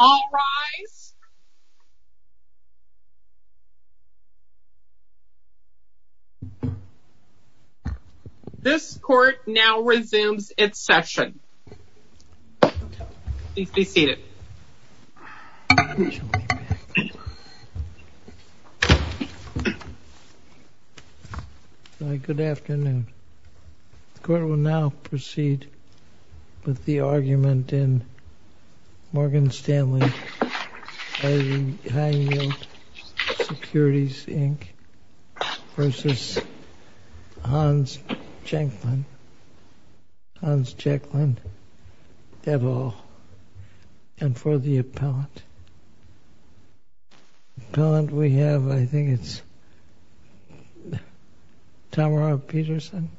All rise. This court now resumes its session. Please be seated. Good afternoon. The court will now proceed with the argument in Morgan Stanley High Yield Securities, Inc. v. Hans Jecklin, et al., and for the appellant. Appellant we have, I think it's Tamara Peterson.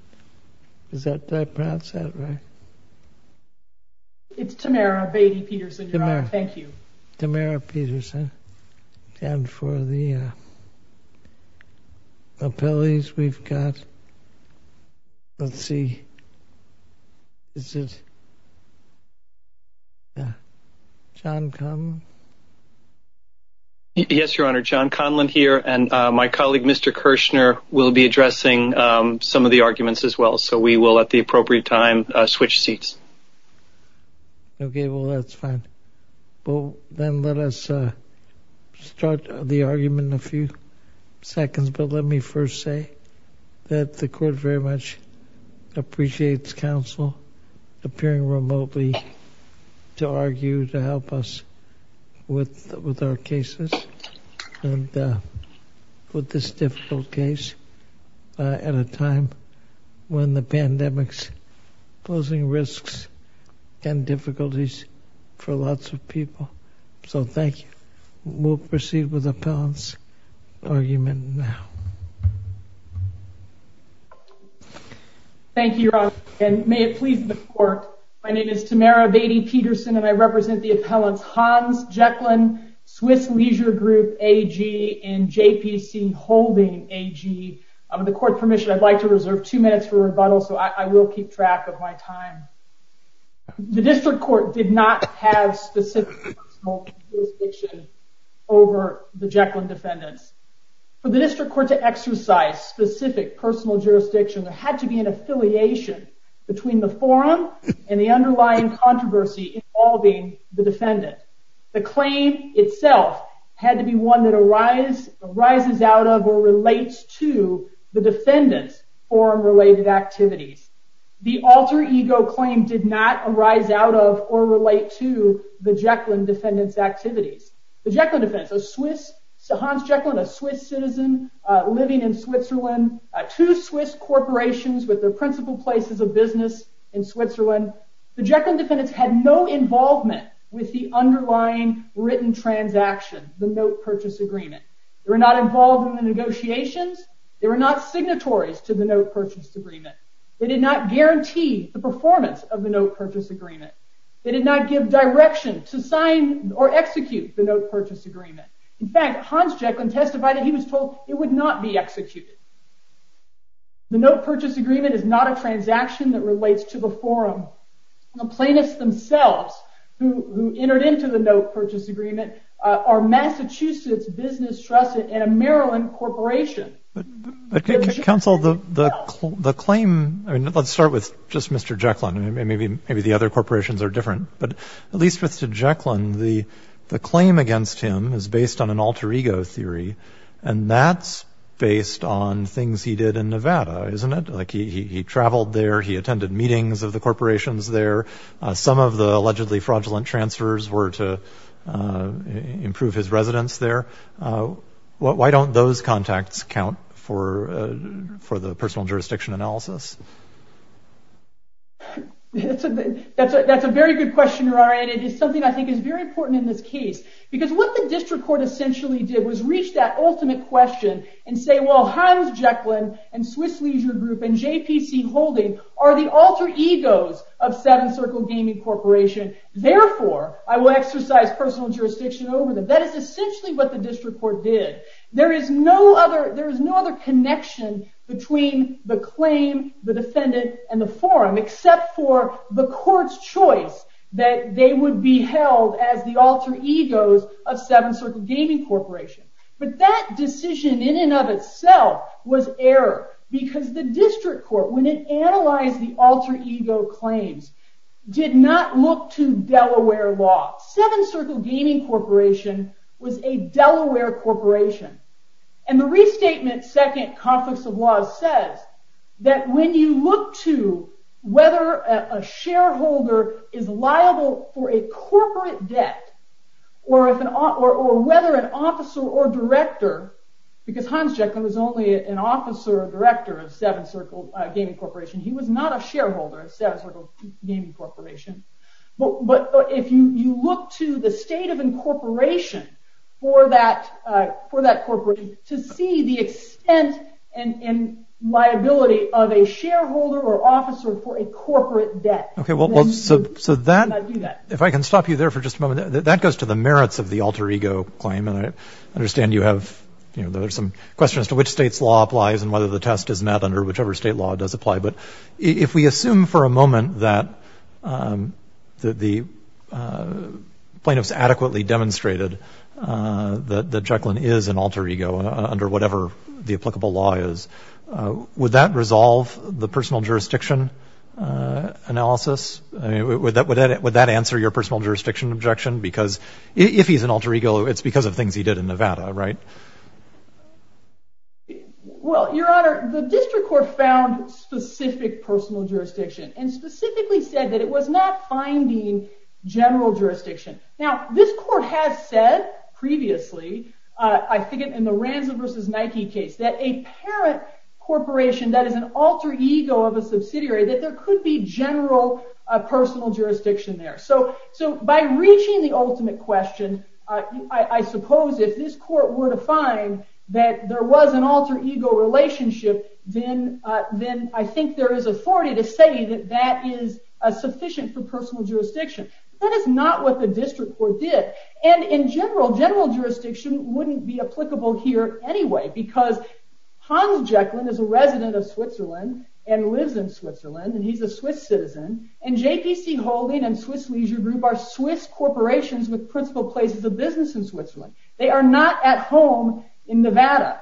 Is that perhaps that right? It's Tamara Beatty Peterson, Your Honor. Thank you. Tamara Peterson, and for the appellees we've got, let's see, is it John Conlon? Yes, Your Honor, John Conlon here, and my colleague, Mr. Kirshner, will be addressing some of the arguments as well, so we will at the appropriate time switch seats. Okay, well, that's fine. Then let us start the argument in a few seconds, but let me first say that the court very much appreciates counsel appearing remotely to argue, to help us with our cases, and with this difficult case at a time when the pandemic's posing risks and difficulties for lots of people. So thank you. We'll proceed with the appellant's argument now. Thank you, Your Honor, and may it please the court, my name is Tamara Beatty Peterson, and I represent the appellants Hans Jecklin, Swiss Leisure Group AG, and JPC Holding AG. With the court permission, I'd like to reserve two minutes for rebuttal, so I will keep track of my time. The district court did not have specific personal jurisdiction over the Jecklin defendants. For the district court to exercise specific personal jurisdiction, there had to be an affiliation between the forum and the underlying controversy involving the defendant. The claim itself had to be one that arises out of or relates to the defendant's forum-related activities. The alter ego claim did not arise out of or relate to the Jecklin defendants' activities. The Jecklin defendants, Hans Jecklin, a Swiss citizen living in Switzerland, two Swiss corporations with their principal places of business in Switzerland, the Jecklin defendants had no involvement with the underlying written transaction, the note purchase agreement. They were not involved in the negotiations. They were not signatories to the note purchase agreement. They did not guarantee the performance of the note purchase agreement. They did not give direction to sign or execute the note purchase agreement. In fact, Hans Jecklin testified that he was told it would not be executed. The note purchase agreement is not a transaction that relates to the forum. The plaintiffs themselves who entered into the note purchase agreement are Massachusetts Business Trust and a Maryland corporation. But counsel, the claim, let's start with just Mr. Jecklin. Maybe the other corporations are different. But at least with Mr. Jecklin, the claim against him is based on an alter ego theory, and that's based on things he did in Nevada, isn't it? Like he traveled there. He attended meetings of the corporations there. Some of the allegedly fraudulent transfers were to improve his residence there. Why don't those contacts count for the personal jurisdiction analysis? That's a very good question, Ryan. It is something I think is very important in this case. Because what the district court essentially did was reach that ultimate question and say, well, Hans Jecklin and Swiss Leisure Group and JPC Holding are the alter egos of Seven Circle Gaming Corporation. Therefore, I will exercise personal jurisdiction over them. That is essentially what the district court did. There is no other connection between the claim, the defendant, and the forum, except for the court's choice that they would be held as the alter egos of Seven Circle Gaming Corporation. But that decision in and of itself was error. Because the district court, when it analyzed the alter ego claims, did not look to Delaware law. Seven Circle Gaming Corporation was a Delaware corporation. The restatement, Second Conflicts of Laws, says that when you look to whether a shareholder is liable for a corporate debt, or whether an officer or director, because Hans Jecklin was only an officer or director of Seven Circle Gaming Corporation. He was not a shareholder of Seven Circle Gaming Corporation. But if you look to the state of incorporation for that corporate, to see the extent and liability of a shareholder or officer for a corporate debt, then you would not do that. If I can stop you there for just a moment, that goes to the merits of the alter ego claim, and I understand you have some questions as to which state's law applies and whether the test is met under whichever state law does apply. But if we assume for a moment that the plaintiffs adequately demonstrated that Jecklin is an alter ego under whatever the applicable law is, would that resolve the personal jurisdiction analysis? Would that answer your personal jurisdiction objection? Because if he's an alter ego, it's because of things he did in Nevada, right? Well, Your Honor, the district court found specific personal jurisdiction, and specifically said that it was not finding general jurisdiction. Now, this court has said previously, I think in the Ransom v. Nike case, that a parent corporation that is an alter ego of a subsidiary, that there could be general personal jurisdiction there. So by reaching the ultimate question, I suppose if this court were to find that there was an alter ego relationship, then I think there is authority to say that that is sufficient for personal jurisdiction. That is not what the district court did. And in general, general jurisdiction wouldn't be applicable here anyway, because Hans Jecklin is a resident of Switzerland and lives in Switzerland, and he's a Swiss citizen, and JPC Holding and Swiss Leisure Group are Swiss corporations with principal places of business in Switzerland. They are not at home in Nevada.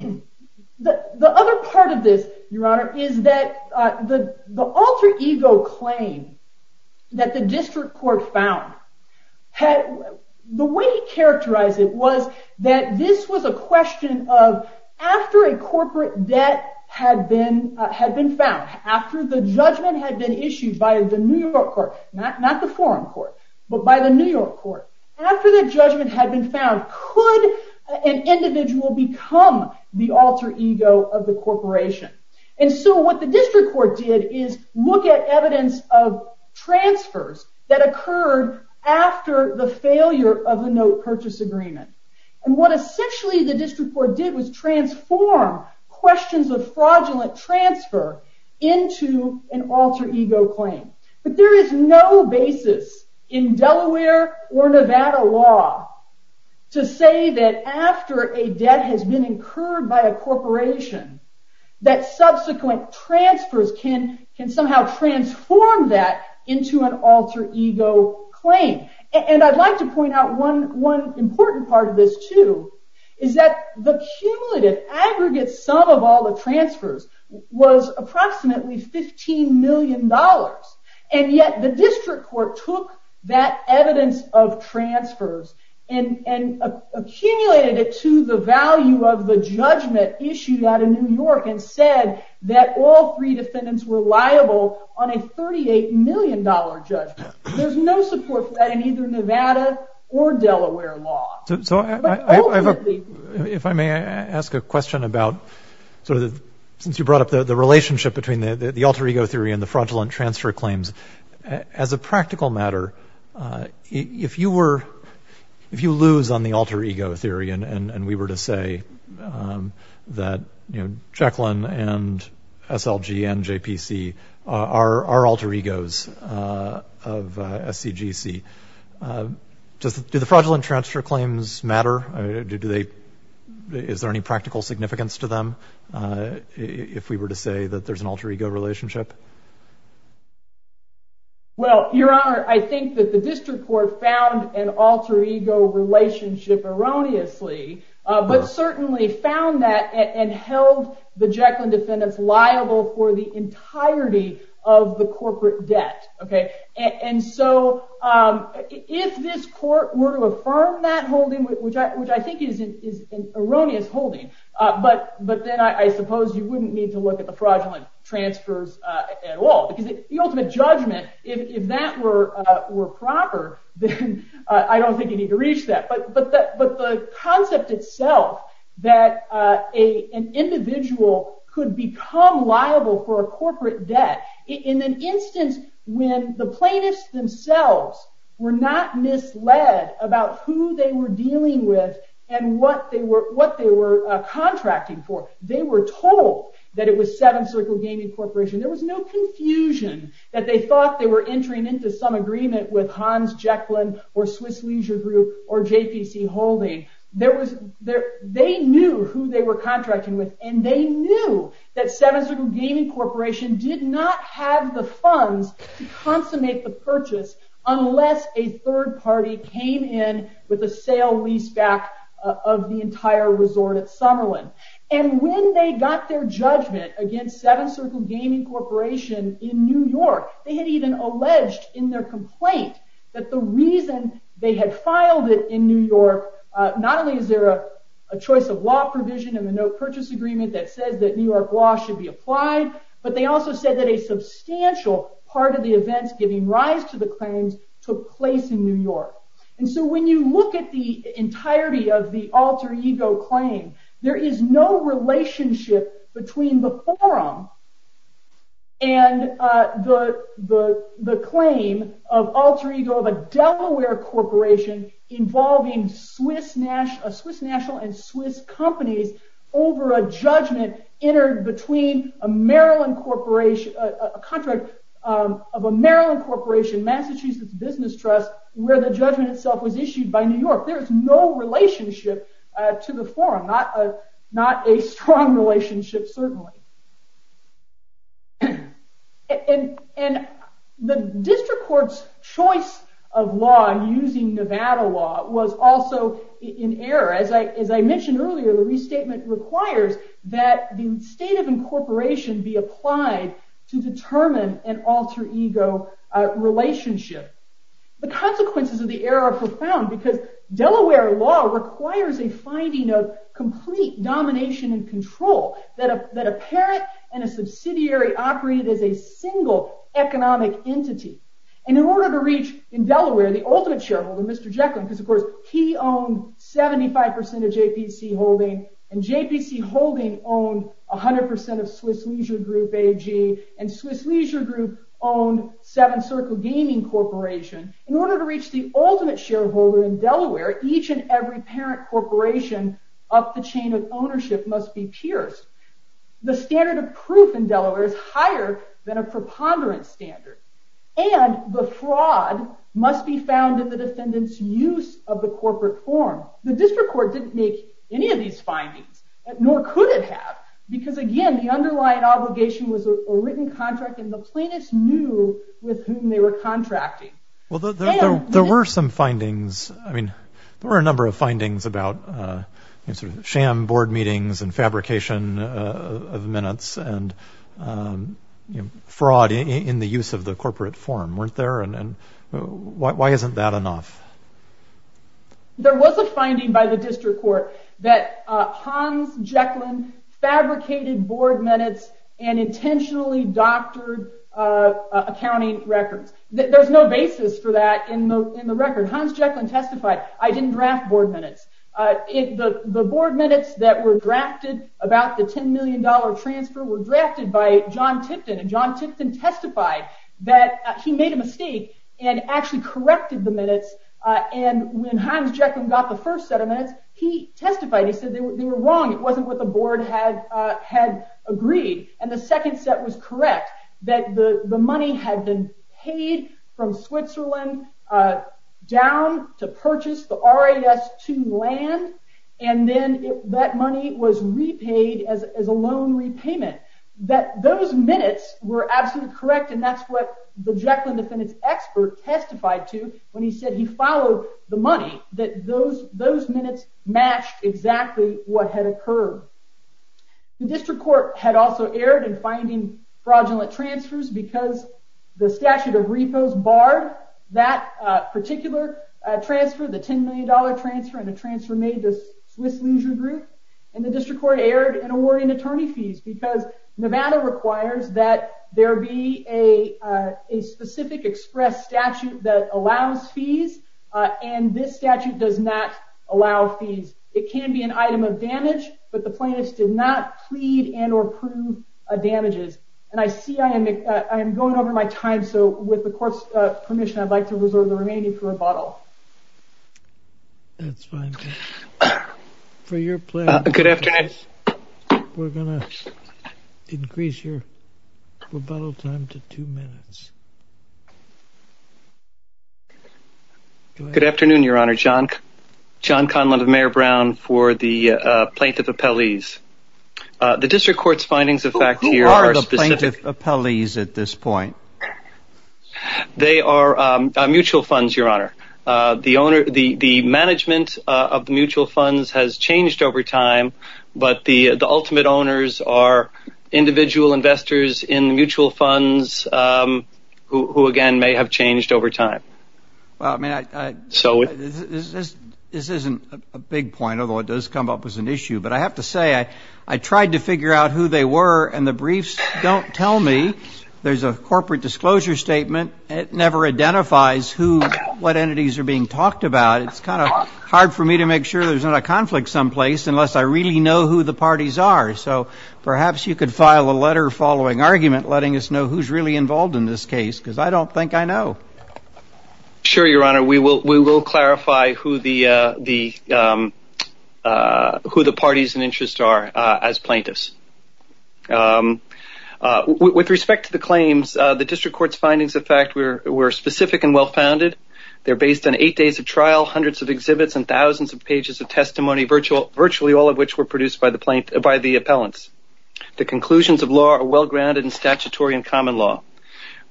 The other part of this, Your Honor, is that the alter ego claim that the district court found, the way he characterized it was that this was a question of after a corporate debt had been found, after the judgment had been issued by the New York court, not the forum court, but by the New York court, after the judgment had been found, could an individual become the alter ego of the corporation? And so what the district court did is look at evidence of transfers that occurred after the failure of the note purchase agreement. And what essentially the district court did was transform questions of fraudulent transfer into an alter ego claim. But there is no basis in Delaware or Nevada law to say that after a debt has been incurred by a corporation, that subsequent transfers can somehow transform that into an alter ego claim. And I'd like to point out one important part of this, too, is that the cumulative aggregate sum of all the transfers was approximately $15 million, and yet the district court took that evidence of transfers and accumulated it to the value of the judgment issued out of New York and said that all three defendants were liable on a $38 million judgment. There's no support for that in either Nevada or Delaware law. If I may ask a question about, since you brought up the relationship between the alter ego theory and the fraudulent transfer claims, as a practical matter, if you lose on the alter ego theory and we were to say that, you know, Jekyll and S.L.G. and J.P.C. are alter egos of S.C.G.C., do the fraudulent transfer claims matter? Is there any practical significance to them if we were to say that there's an alter ego relationship? Well, Your Honor, I think that the district court found an alter ego relationship erroneously, but certainly found that and held the Jekyll and defendants liable for the entirety of the corporate debt. And so if this court were to affirm that holding, which I think is an erroneous holding, but then I suppose you wouldn't need to look at the fraudulent transfers at all. Because the ultimate judgment, if that were proper, then I don't think you'd need to reach that. But the concept itself that an individual could become liable for a corporate debt, in an instance when the plaintiffs themselves were not misled about who they were dealing with and what they were contracting for. They were told that it was S.C.G.C. There was no confusion that they thought they were entering into some agreement with Hans Jekyll or S.L.G.C. or J.P.C. holding. They knew who they were contracting with, and they knew that S.C.G.C. did not have the funds to consummate the purchase unless a third party came in with a sale-leaseback of the entire resort at Summerlin. And when they got their judgment against Seven Circle Gaming Corporation in New York, they had even alleged in their complaint that the reason they had filed it in New York, not only is there a choice of law provision in the no-purchase agreement that says that New York law should be applied, but they also said that a substantial part of the events giving rise to the claims took place in New York. And so when you look at the entirety of the alter ego claim, there is no relationship between the forum and the claim of alter ego of a Delaware corporation involving a Swiss national and Swiss companies over a judgment entered between a contract of a Maryland corporation, Massachusetts Business Trust, where the judgment itself was issued by New York. There is no relationship to the forum, not a strong relationship certainly. And the district court's choice of law in using Nevada law was also in error. As I mentioned earlier, the restatement requires that the state of incorporation be applied to determine an alter ego relationship. The consequences of the error are profound, because Delaware law requires a finding of complete domination and control that a parent and a subsidiary operate as a single economic entity. And in order to reach, in Delaware, the ultimate shareholder, Mr. Jekyll, because of course he owned 75% of JPC Holding, and JPC Holding owned 100% of Swiss Leisure Group AG, and Swiss Leisure Group owned Seven Circle Gaming Corporation. In order to reach the ultimate shareholder in Delaware, each and every parent corporation of the chain of ownership must be pierced. The standard of proof in Delaware is higher than a preponderance standard. And the fraud must be found in the defendant's use of the corporate form. The district court didn't make any of these findings, nor could it have, because again, the underlying obligation was a written contract, and the plaintiffs knew with whom they were contracting. Well, there were some findings. I mean, there were a number of findings about sham board meetings and fabrication of minutes and fraud in the use of the corporate form, weren't there? And why isn't that enough? There was a finding by the district court that Hans Jekyll fabricated board minutes and intentionally doctored accounting records. There's no basis for that in the record. Hans Jekyll testified, I didn't draft board minutes. The board minutes that were drafted about the $10 million transfer were drafted by John Tipton, and John Tipton testified that he made a mistake and actually corrected the minutes, and when Hans Jekyll got the first set of minutes, he testified, he said they were wrong, it wasn't what the board had agreed. And the second set was correct, that the money had been paid from Switzerland down to purchase the RAS to land, and then that money was repaid as a loan repayment. Those minutes were absolutely correct, and that's what the Jekyll and Defendant's expert testified to when he said he followed the money, that those minutes matched exactly what had occurred. The district court had also erred in finding fraudulent transfers because the statute of repos barred that particular transfer, the $10 million transfer and the transfer made to Swiss Leisure Group, and the district court erred in awarding attorney fees because Nevada requires that there be a specific express statute that allows fees, and this statute does not allow fees. It can be an item of damage, but the plaintiffs did not plead and or prove damages, and I see I am going over my time, so with the court's permission, I'd like to reserve the remaining for rebuttal. That's fine. Good afternoon. We're going to increase your rebuttal time to two minutes. Good afternoon, Your Honor. John Conlon of Mayor Brown for the plaintiff appellees. The district court's findings of fact here are specific. Who are the plaintiff appellees at this point? They are mutual funds, Your Honor. The management of the mutual funds has changed over time, but the ultimate owners are individual investors in mutual funds, who, again, may have changed over time. This isn't a big point, although it does come up as an issue, but I have to say I tried to figure out who they were, and the briefs don't tell me. There's a corporate disclosure statement. It never identifies what entities are being talked about. It's kind of hard for me to make sure there's not a conflict someplace unless I really know who the parties are, so perhaps you could file a letter following argument, letting us know who's really involved in this case, because I don't think I know. Sure, Your Honor. We will clarify who the parties and interests are as plaintiffs. With respect to the claims, the district court's findings, in fact, were specific and well-founded. They're based on eight days of trial, hundreds of exhibits, and thousands of pages of testimony, virtually all of which were produced by the appellants. The conclusions of law are well-grounded and statutory in common law.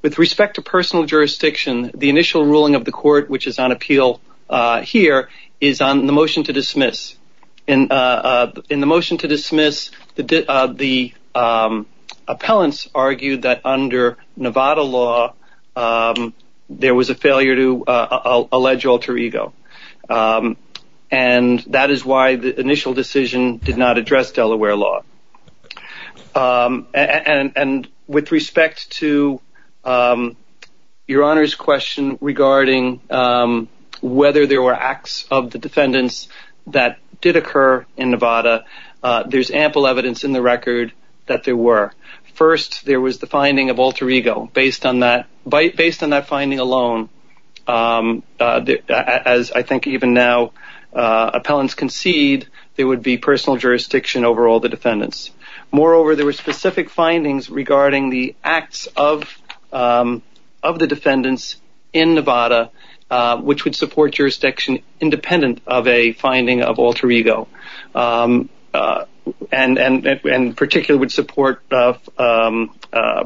With respect to personal jurisdiction, the initial ruling of the court, which is on appeal here, is on the motion to dismiss. In the motion to dismiss, the appellants argued that, under Nevada law, there was a failure to allege alter ego, and that is why the initial decision did not address Delaware law. And with respect to Your Honor's question regarding whether there were acts of the defendants that did occur in Nevada, there's ample evidence in the record that there were. First, there was the finding of alter ego. Based on that finding alone, as I think even now appellants concede, there would be personal jurisdiction over all the defendants. Moreover, there were specific findings regarding the acts of the defendants in Nevada, which would support jurisdiction independent of a finding of alter ego, and in particular would support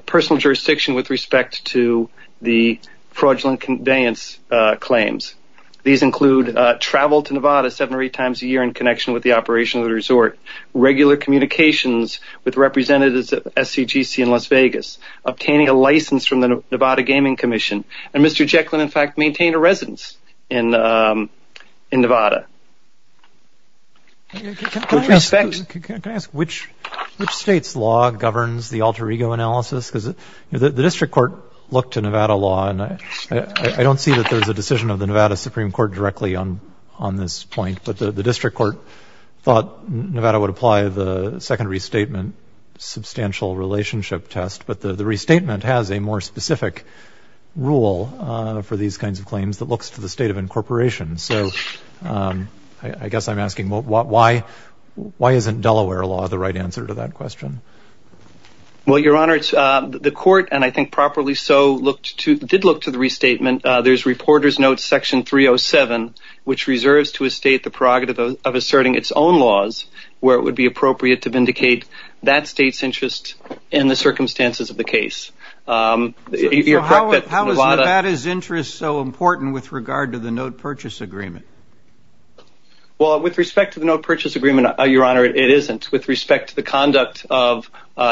personal jurisdiction with respect to the fraudulent conveyance claims. These include travel to Nevada seven or eight times a year in connection with the operation of the resort, regular communications with representatives of SCGC in Las Vegas, obtaining a license from the Nevada Gaming Commission, and Mr. Jekyll in fact maintained a residence in Nevada. Can I ask which state's law governs the alter ego analysis? Because the district court looked to Nevada law, and I don't see that there's a decision of the Nevada Supreme Court directly on this point, but the district court thought Nevada would apply the second restatement substantial relationship test, but the restatement has a more specific rule for these kinds of claims that looks to the state of incorporation. So I guess I'm asking why isn't Delaware law the right answer to that question? Well, Your Honor, the court, and I think properly so, did look to the restatement. There's reporter's note section 307, which reserves to a state the prerogative of asserting its own laws where it would be appropriate to vindicate that state's interest in the circumstances of the case. How is Nevada's interest so important with regard to the note purchase agreement? Well, with respect to the note purchase agreement, Your Honor, it isn't. With respect to the conduct of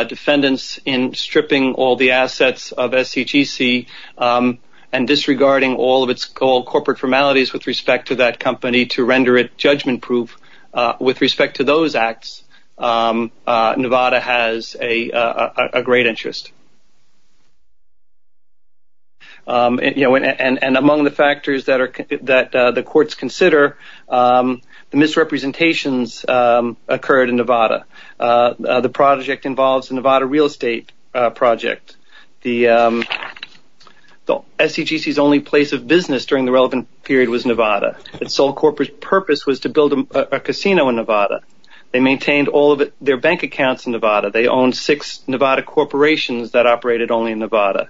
defendants in stripping all the assets of SCGC and disregarding all of its corporate formalities with respect to that company to render it judgment-proof, with respect to those acts, Nevada has a great interest. And among the factors that the courts consider, the misrepresentations occurred in Nevada. The project involves a Nevada real estate project. SCGC's only place of business during the relevant period was Nevada. Its sole corporate purpose was to build a casino in Nevada. They maintained all of their bank accounts in Nevada. They owned six Nevada corporations that operated only in Nevada.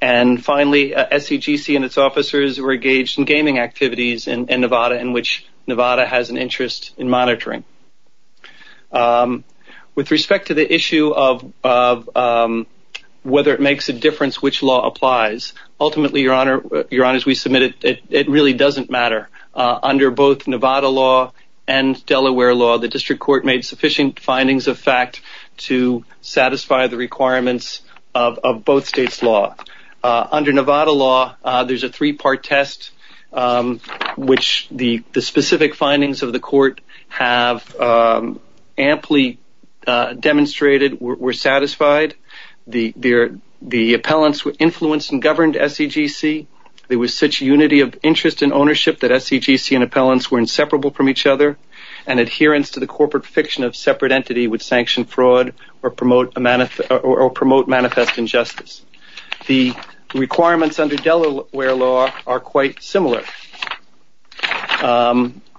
And finally, SCGC and its officers were engaged in gaming activities in Nevada in which Nevada has an interest in monitoring. With respect to the issue of whether it makes a difference which law applies, ultimately, Your Honor, as we submitted, it really doesn't matter. Under both Nevada law and Delaware law, the district court made sufficient findings of fact to satisfy the requirements of both states' law. Under Nevada law, there's a three-part test which the specific findings of the court have amply demonstrated were satisfied. The appellants were influenced and governed SCGC. There was such unity of interest and ownership that SCGC and appellants were inseparable from each other and adherence to the corporate fiction of separate entity would sanction fraud or promote manifest injustice. The requirements under Delaware law are quite similar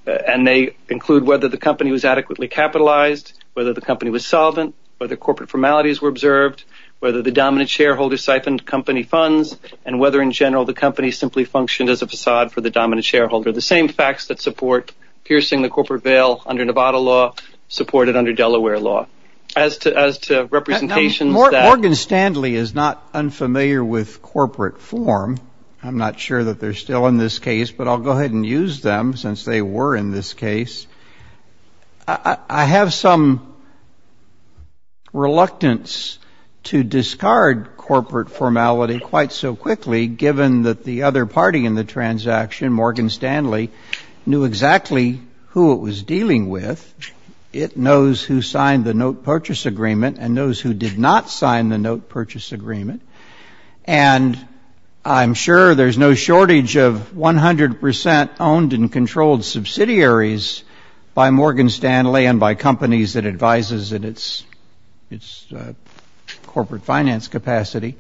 and they include whether the company was adequately capitalized, whether the company was solvent, whether corporate formalities were observed, whether the dominant shareholder siphoned company funds, and whether in general the company simply functioned as a facade for the dominant shareholder. The same facts that support piercing the corporate veil under Nevada law supported under Delaware law. As to representations that... Morgan Stanley is not unfamiliar with corporate form. I'm not sure that they're still in this case, but I'll go ahead and use them since they were in this case. I have some reluctance to discard corporate formality quite so quickly, given that the other party in the transaction, Morgan Stanley, knew exactly who it was dealing with. It knows who signed the note purchase agreement and knows who did not sign the note purchase agreement. And I'm sure there's no shortage of 100% owned and controlled subsidiaries by Morgan Stanley and by companies it advises in its corporate finance capacity.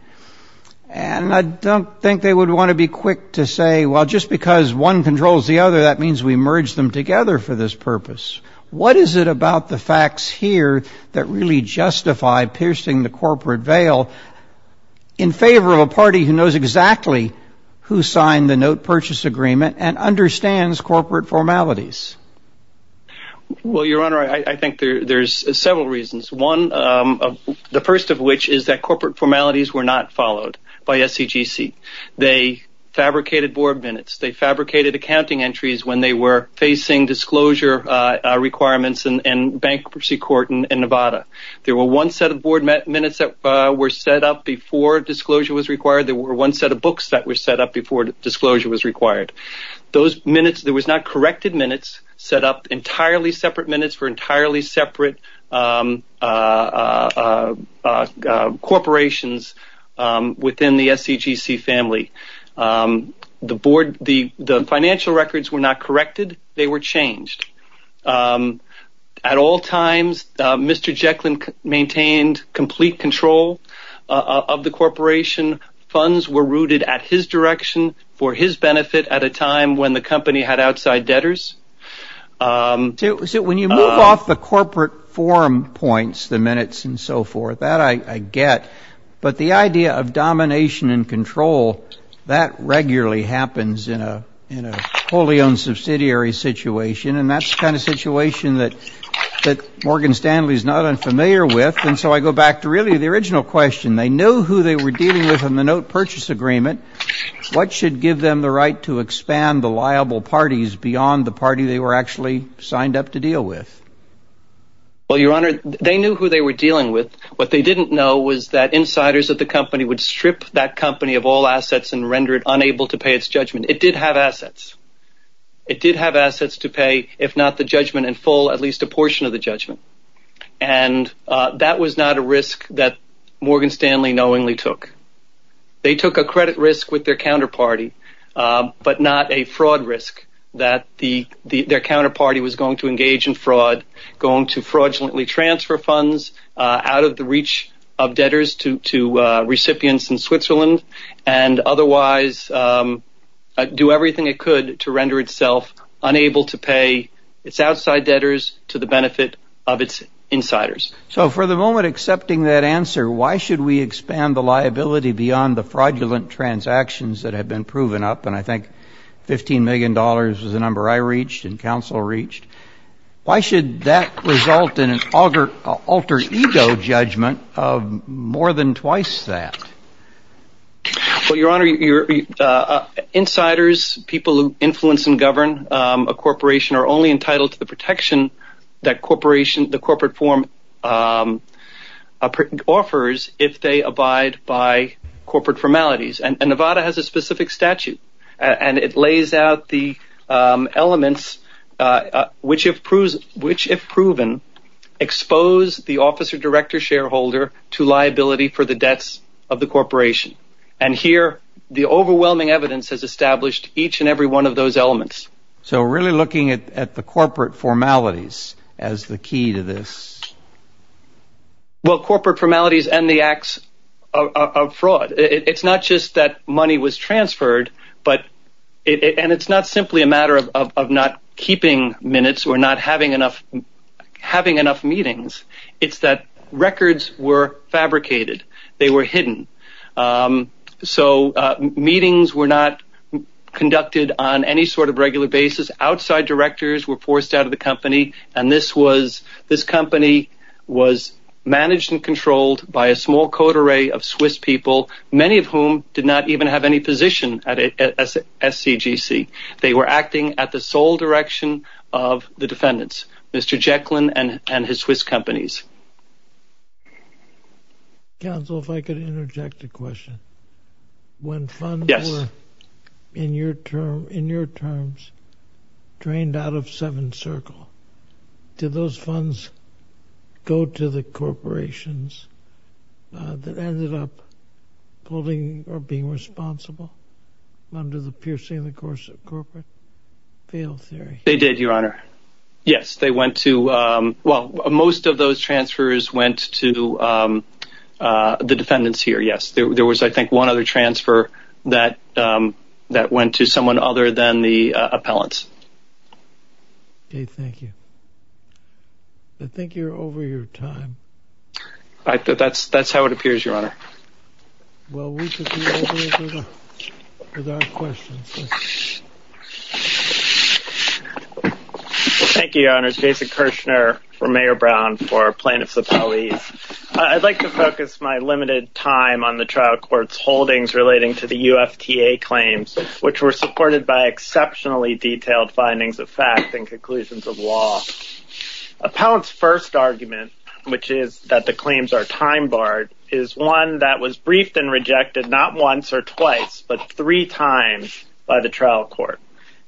And I don't think they would want to be quick to say, well, just because one controls the other, that means we merge them together for this purpose. What is it about the facts here that really justify piercing the corporate veil in favor of a party who knows exactly who signed the note purchase agreement and understands corporate formalities? Well, Your Honor, I think there's several reasons. One, the first of which is that corporate formalities were not followed by SCGC. They fabricated board minutes. They fabricated accounting entries when they were facing disclosure requirements in bankruptcy court in Nevada. There were one set of board minutes that were set up before disclosure was required. There were one set of books that were set up before disclosure was required. Those minutes, there was not corrected minutes set up entirely separate minutes for entirely separate corporations within the SCGC family. The board, the financial records were not corrected. They were changed. At all times, Mr. Jekyll maintained complete control of the corporation. Funds were rooted at his direction for his benefit at a time when the company had outside debtors. So when you move off the corporate forum points, the minutes and so forth, that I get. But the idea of domination and control, that regularly happens in a wholly owned subsidiary situation. And that's the kind of situation that Morgan Stanley is not unfamiliar with. And so I go back to really the original question. They knew who they were dealing with in the note purchase agreement. What should give them the right to expand the liable parties beyond the party they were actually signed up to deal with? Well, Your Honor, they knew who they were dealing with. What they didn't know was that insiders at the company would strip that company of all assets and render it unable to pay its judgment. It did have assets. It did have assets to pay, if not the judgment in full, at least a portion of the judgment. And that was not a risk that Morgan Stanley knowingly took. They took a credit risk with their counterparty, but not a fraud risk that their counterparty was going to engage in fraud, going to fraudulently transfer funds out of the reach of debtors to recipients in Switzerland and otherwise do everything it could to render itself unable to pay its outside debtors to the benefit of its insiders. So for the moment, accepting that answer, why should we expand the liability beyond the fraudulent transactions that have been proven up? And I think $15 million was the number I reached and counsel reached. Why should that result in an alter ego judgment of more than twice that? Well, Your Honor, insiders, people who influence and govern a corporation, are only entitled to the protection that the corporate form offers if they abide by corporate formalities. And Nevada has a specific statute and it lays out the elements which, if proven, expose the officer-director-shareholder to liability for the debts of the corporation. And here, the overwhelming evidence has established each and every one of those elements. So really looking at the corporate formalities as the key to this. Well, corporate formalities and the acts of fraud. It's not just that money was transferred, and it's not simply a matter of not keeping minutes or not having enough meetings. It's that records were fabricated. They were hidden. So meetings were not conducted on any sort of regular basis. Outside directors were forced out of the company, and this company was managed and controlled by a small code array of Swiss people, many of whom did not even have any position at SCGC. They were acting at the sole direction of the defendants, Mr. Jekyll and his Swiss companies. Counsel, if I could interject a question. When funds were, in your terms, drained out of Seventh Circle, did those funds go to the corporations that ended up holding or being responsible under the piercing the corporate veil theory? They did, Your Honor. Yes, they went to, well, most of those transfers went to the defendants here, yes. There was, I think, one other transfer that went to someone other than the appellants. Okay, thank you. I think you're over your time. That's how it appears, Your Honor. Well, we should be over with our questions. Thank you, Your Honor. Jason Kirshner for Mayor Brown for Plaintiffs Appellees. I'd like to focus my limited time on the trial court's holdings relating to the UFTA claims, which were supported by exceptionally detailed findings of fact and conclusions of law. Appellant's first argument, which is that the claims are time barred, is one that was briefed and rejected not once or twice, but three times by the trial court.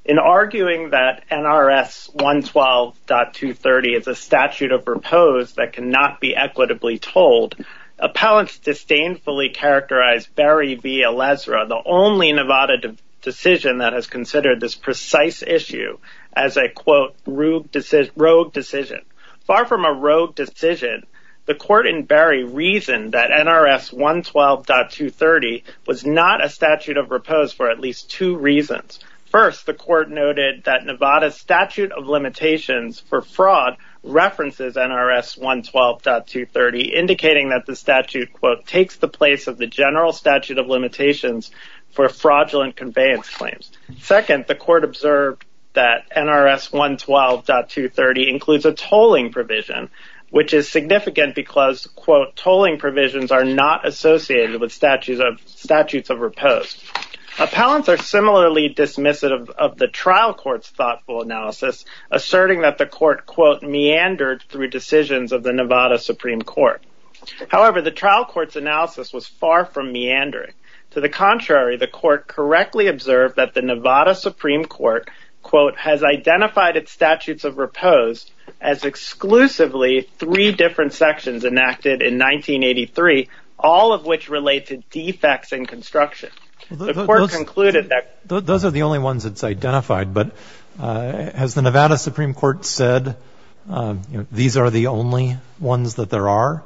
In arguing that NRS 112.230 is a statute of repose that cannot be equitably told, appellants disdainfully characterized Berry v. Elezra, the only Nevada decision that has considered this precise issue as a, quote, rogue decision. Far from a rogue decision, the court in Berry reasoned that NRS 112.230 was not a statute of repose for at least two reasons. First, the court noted that Nevada's statute of limitations for fraud references NRS 112.230, indicating that the statute, quote, takes the place of the general statute of limitations for fraudulent conveyance claims. Second, the court observed that NRS 112.230 includes a tolling provision, which is significant because, quote, tolling provisions are not associated with statutes of repose. Appellants are similarly dismissive of the trial court's thoughtful analysis, asserting that the court, quote, meandered through decisions of the Nevada Supreme Court. However, the trial court's analysis was far from meandering. To the contrary, the court correctly observed that the Nevada Supreme Court, quote, has identified its statutes of repose as exclusively three different sections enacted in 1983, all of which relate to defects in construction. The court concluded that those are the only ones that's identified. But has the Nevada Supreme Court said these are the only ones that there are?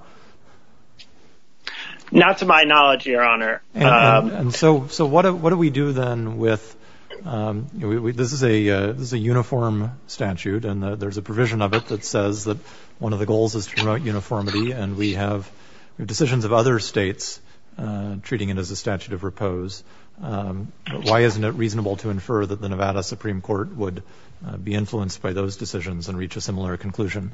Not to my knowledge, Your Honor. And so what do we do then with this is a uniform statute, and there's a provision of it that says that one of the goals is to promote uniformity, and we have decisions of other states treating it as a statute of repose. Why isn't it reasonable to infer that the Nevada Supreme Court would be influenced by those decisions and reach a similar conclusion?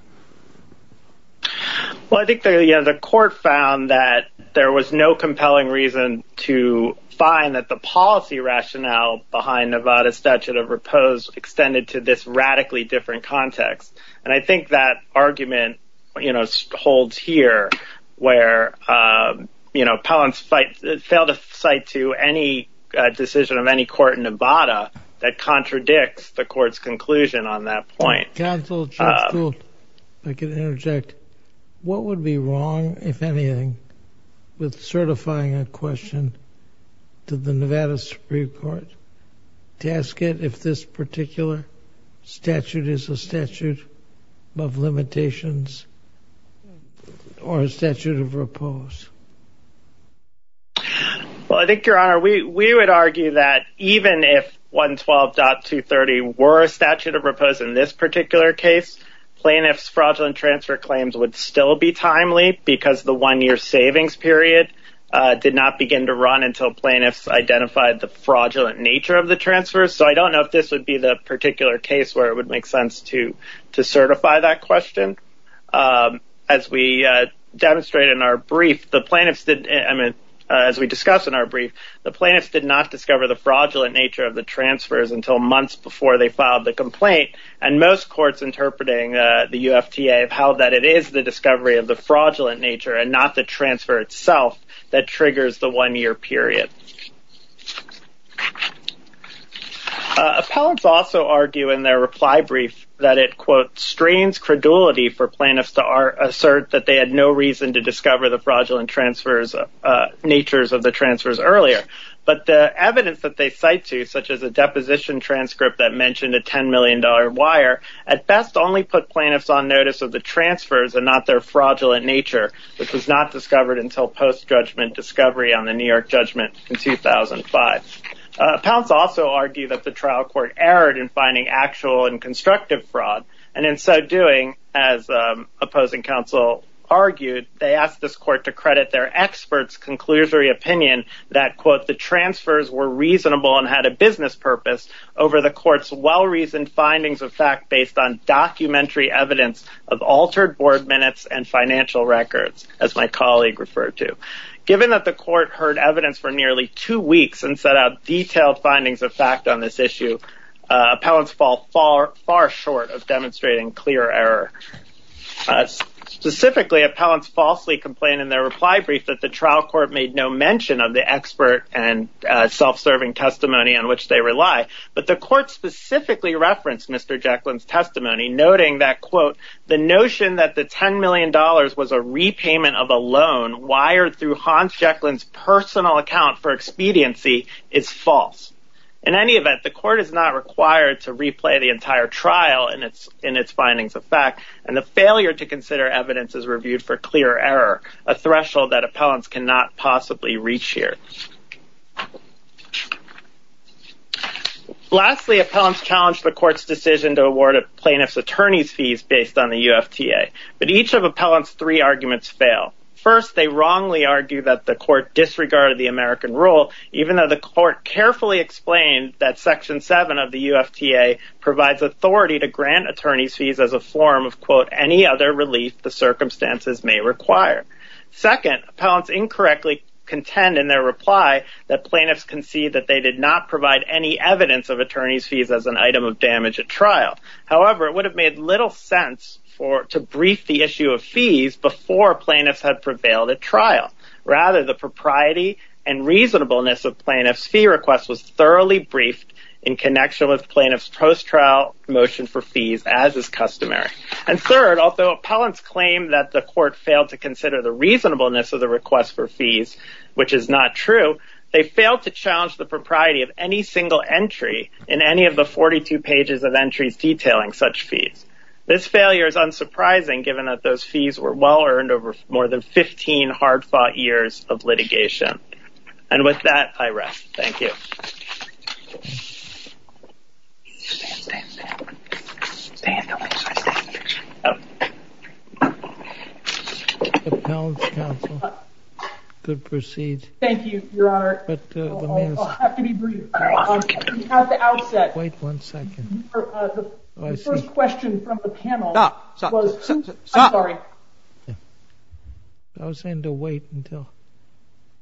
Well, I think the court found that there was no compelling reason to find that the policy rationale behind Nevada's statute of repose extended to this radically different context. And I think that argument, you know, holds here where, you know, Pellants failed to cite to any decision of any court in Nevada that contradicts the court's conclusion on that point. Counsel, Judge Stuhl, if I could interject, what would be wrong, if anything, with certifying a question to the Nevada Supreme Court to ask it if this particular statute is a statute of limitations or a statute of repose? Well, I think, Your Honor, we would argue that even if 112.230 were a statute of repose in this particular case, plaintiff's fraudulent transfer claims would still be timely because the one-year savings period did not begin to run until plaintiffs identified the fraudulent nature of the transfers. So I don't know if this would be the particular case where it would make sense to certify that question. As we demonstrated in our brief, the plaintiffs did, I mean, as we discussed in our brief, the plaintiffs did not discover the fraudulent nature of the transfers until months before they filed the complaint. And most courts interpreting the UFTA held that it is the discovery of the fraudulent nature and not the transfer itself that triggers the one-year period. Pellants also argue in their reply brief that it, quote, for plaintiffs to assert that they had no reason to discover the fraudulent natures of the transfers earlier. But the evidence that they cite to, such as a deposition transcript that mentioned a $10 million wire, at best only put plaintiffs on notice of the transfers and not their fraudulent nature, which was not discovered until post-judgment discovery on the New York judgment in 2005. Pellants also argued that the trial court erred in finding actual and constructive fraud, and in so doing, as opposing counsel argued, they asked this court to credit their experts' conclusory opinion that, quote, the transfers were reasonable and had a business purpose over the court's well-reasoned findings of fact based on documentary evidence of altered board minutes and financial records, as my colleague referred to. Given that the court heard evidence for nearly two weeks and set out detailed findings of fact on this issue, Pellants fall far short of demonstrating clear error. Specifically, Pellants falsely complained in their reply brief that the trial court made no mention of the expert and self-serving testimony on which they rely. But the court specifically referenced Mr. Jekyll's testimony, noting that, quote, the notion that the $10 million was a repayment of a loan wired through Hans Jekyll's personal account for expediency is false. In any event, the court is not required to replay the entire trial in its findings of fact, and the failure to consider evidence is reviewed for clear error, a threshold that Appellants cannot possibly reach here. Lastly, Appellants challenged the court's decision to award a plaintiff's attorney's fees based on the UFTA, but each of Appellants' three arguments fail. First, they wrongly argue that the court disregarded the American rule, even though the court carefully explained that Section 7 of the UFTA provides authority to grant attorney's fees as a form of, quote, any other relief the circumstances may require. Second, Appellants incorrectly contend in their reply that plaintiffs concede that they did not provide any evidence of attorney's fees as an item of damage at trial. However, it would have made little sense to brief the issue of fees before plaintiffs had prevailed at trial. Rather, the propriety and reasonableness of plaintiffs' fee request was thoroughly briefed in connection with plaintiffs' post-trial motion for fees as is customary. And third, although Appellants claim that the court failed to consider the reasonableness of the request for fees, which is not true, they failed to challenge the propriety of any single entry in any of the 42 pages of entries detailing such fees. This failure is unsurprising given that those fees were well-earned over more than 15 hard-fought years of litigation. And with that, I rest. Thank you. Stan, Stan, Stan. Stan, don't make such a statement. Appellant's counsel, good proceed. Thank you, Your Honor. I'll have to be brief. At the outset. Wait one second. The first question from the panel was. Stop, stop, stop. I'm sorry. I was saying to wait until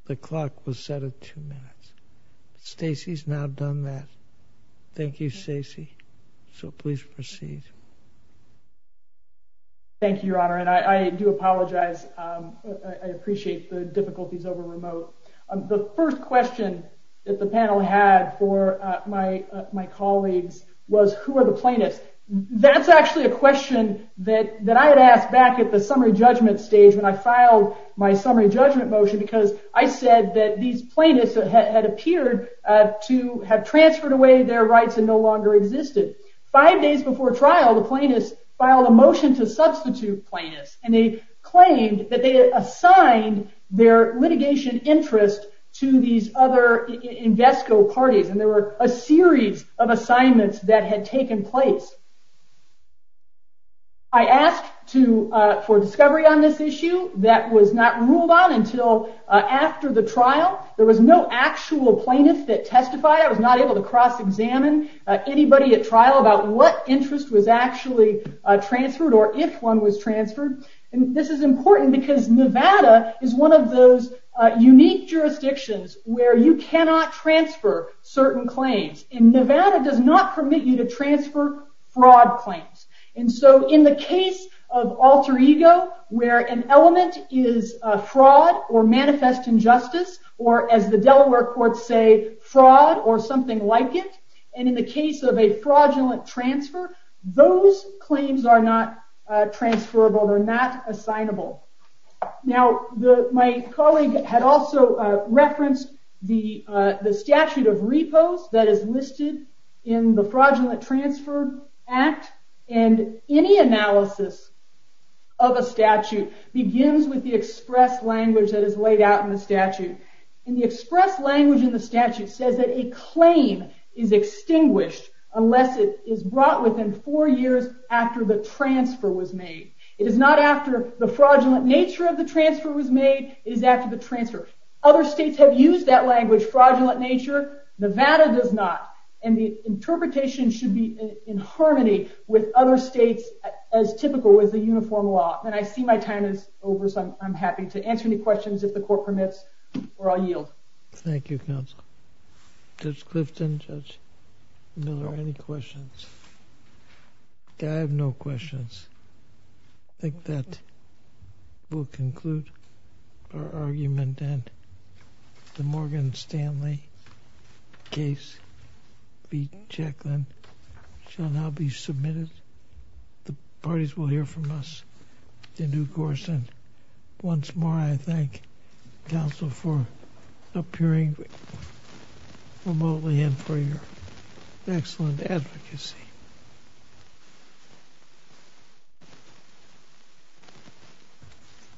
the clock was set at two minutes. Stacey's now done that. Thank you, Stacey. So please proceed. Thank you, Your Honor. And I do apologize. I appreciate the difficulties over remote. The first question that the panel had for my colleagues was, who are the plaintiffs? That's actually a question that I had asked back at the summary judgment stage when I filed my summary judgment motion because I said that these plaintiffs had appeared to have transferred away their rights and no longer existed. Five days before trial, the plaintiffs filed a motion to substitute plaintiffs. And they claimed that they had assigned their litigation interest to these other Invesco parties. And there were a series of assignments that had taken place. I asked for discovery on this issue. That was not ruled on until after the trial. There was no actual plaintiff that testified. I was not able to cross-examine anybody at trial about what interest was actually transferred or if one was transferred. And this is important because Nevada is one of those unique jurisdictions where you cannot transfer certain claims. And Nevada does not permit you to transfer fraud claims. And so in the case of alter ego, where an element is a fraud or manifest injustice, or as the Delaware courts say, fraud or something like it, and in the case of a fraudulent transfer, those claims are not transferable. They're not assignable. Now, my colleague had also referenced the statute of repose that is listed in the Fraudulent Transfer Act. And any analysis of a statute begins with the express language that is laid out in the statute. And the express language in the statute says that a claim is extinguished unless it is brought within four years after the transfer was made. It is not after the fraudulent nature of the transfer was made. It is after the transfer. Other states have used that language, fraudulent nature. Nevada does not. And the interpretation should be in harmony with other states as typical as the uniform law. And I see my time is over, so I'm happy to answer any questions if the court permits, or I'll yield. Thank you, counsel. Judge Clifton, Judge Miller, any questions? I have no questions. I think that will conclude our argument. And the Morgan Stanley case v. Jacklin shall now be submitted. The parties will hear from us in due course. Once more, I thank counsel for appearing remotely and for your excellent advocacy.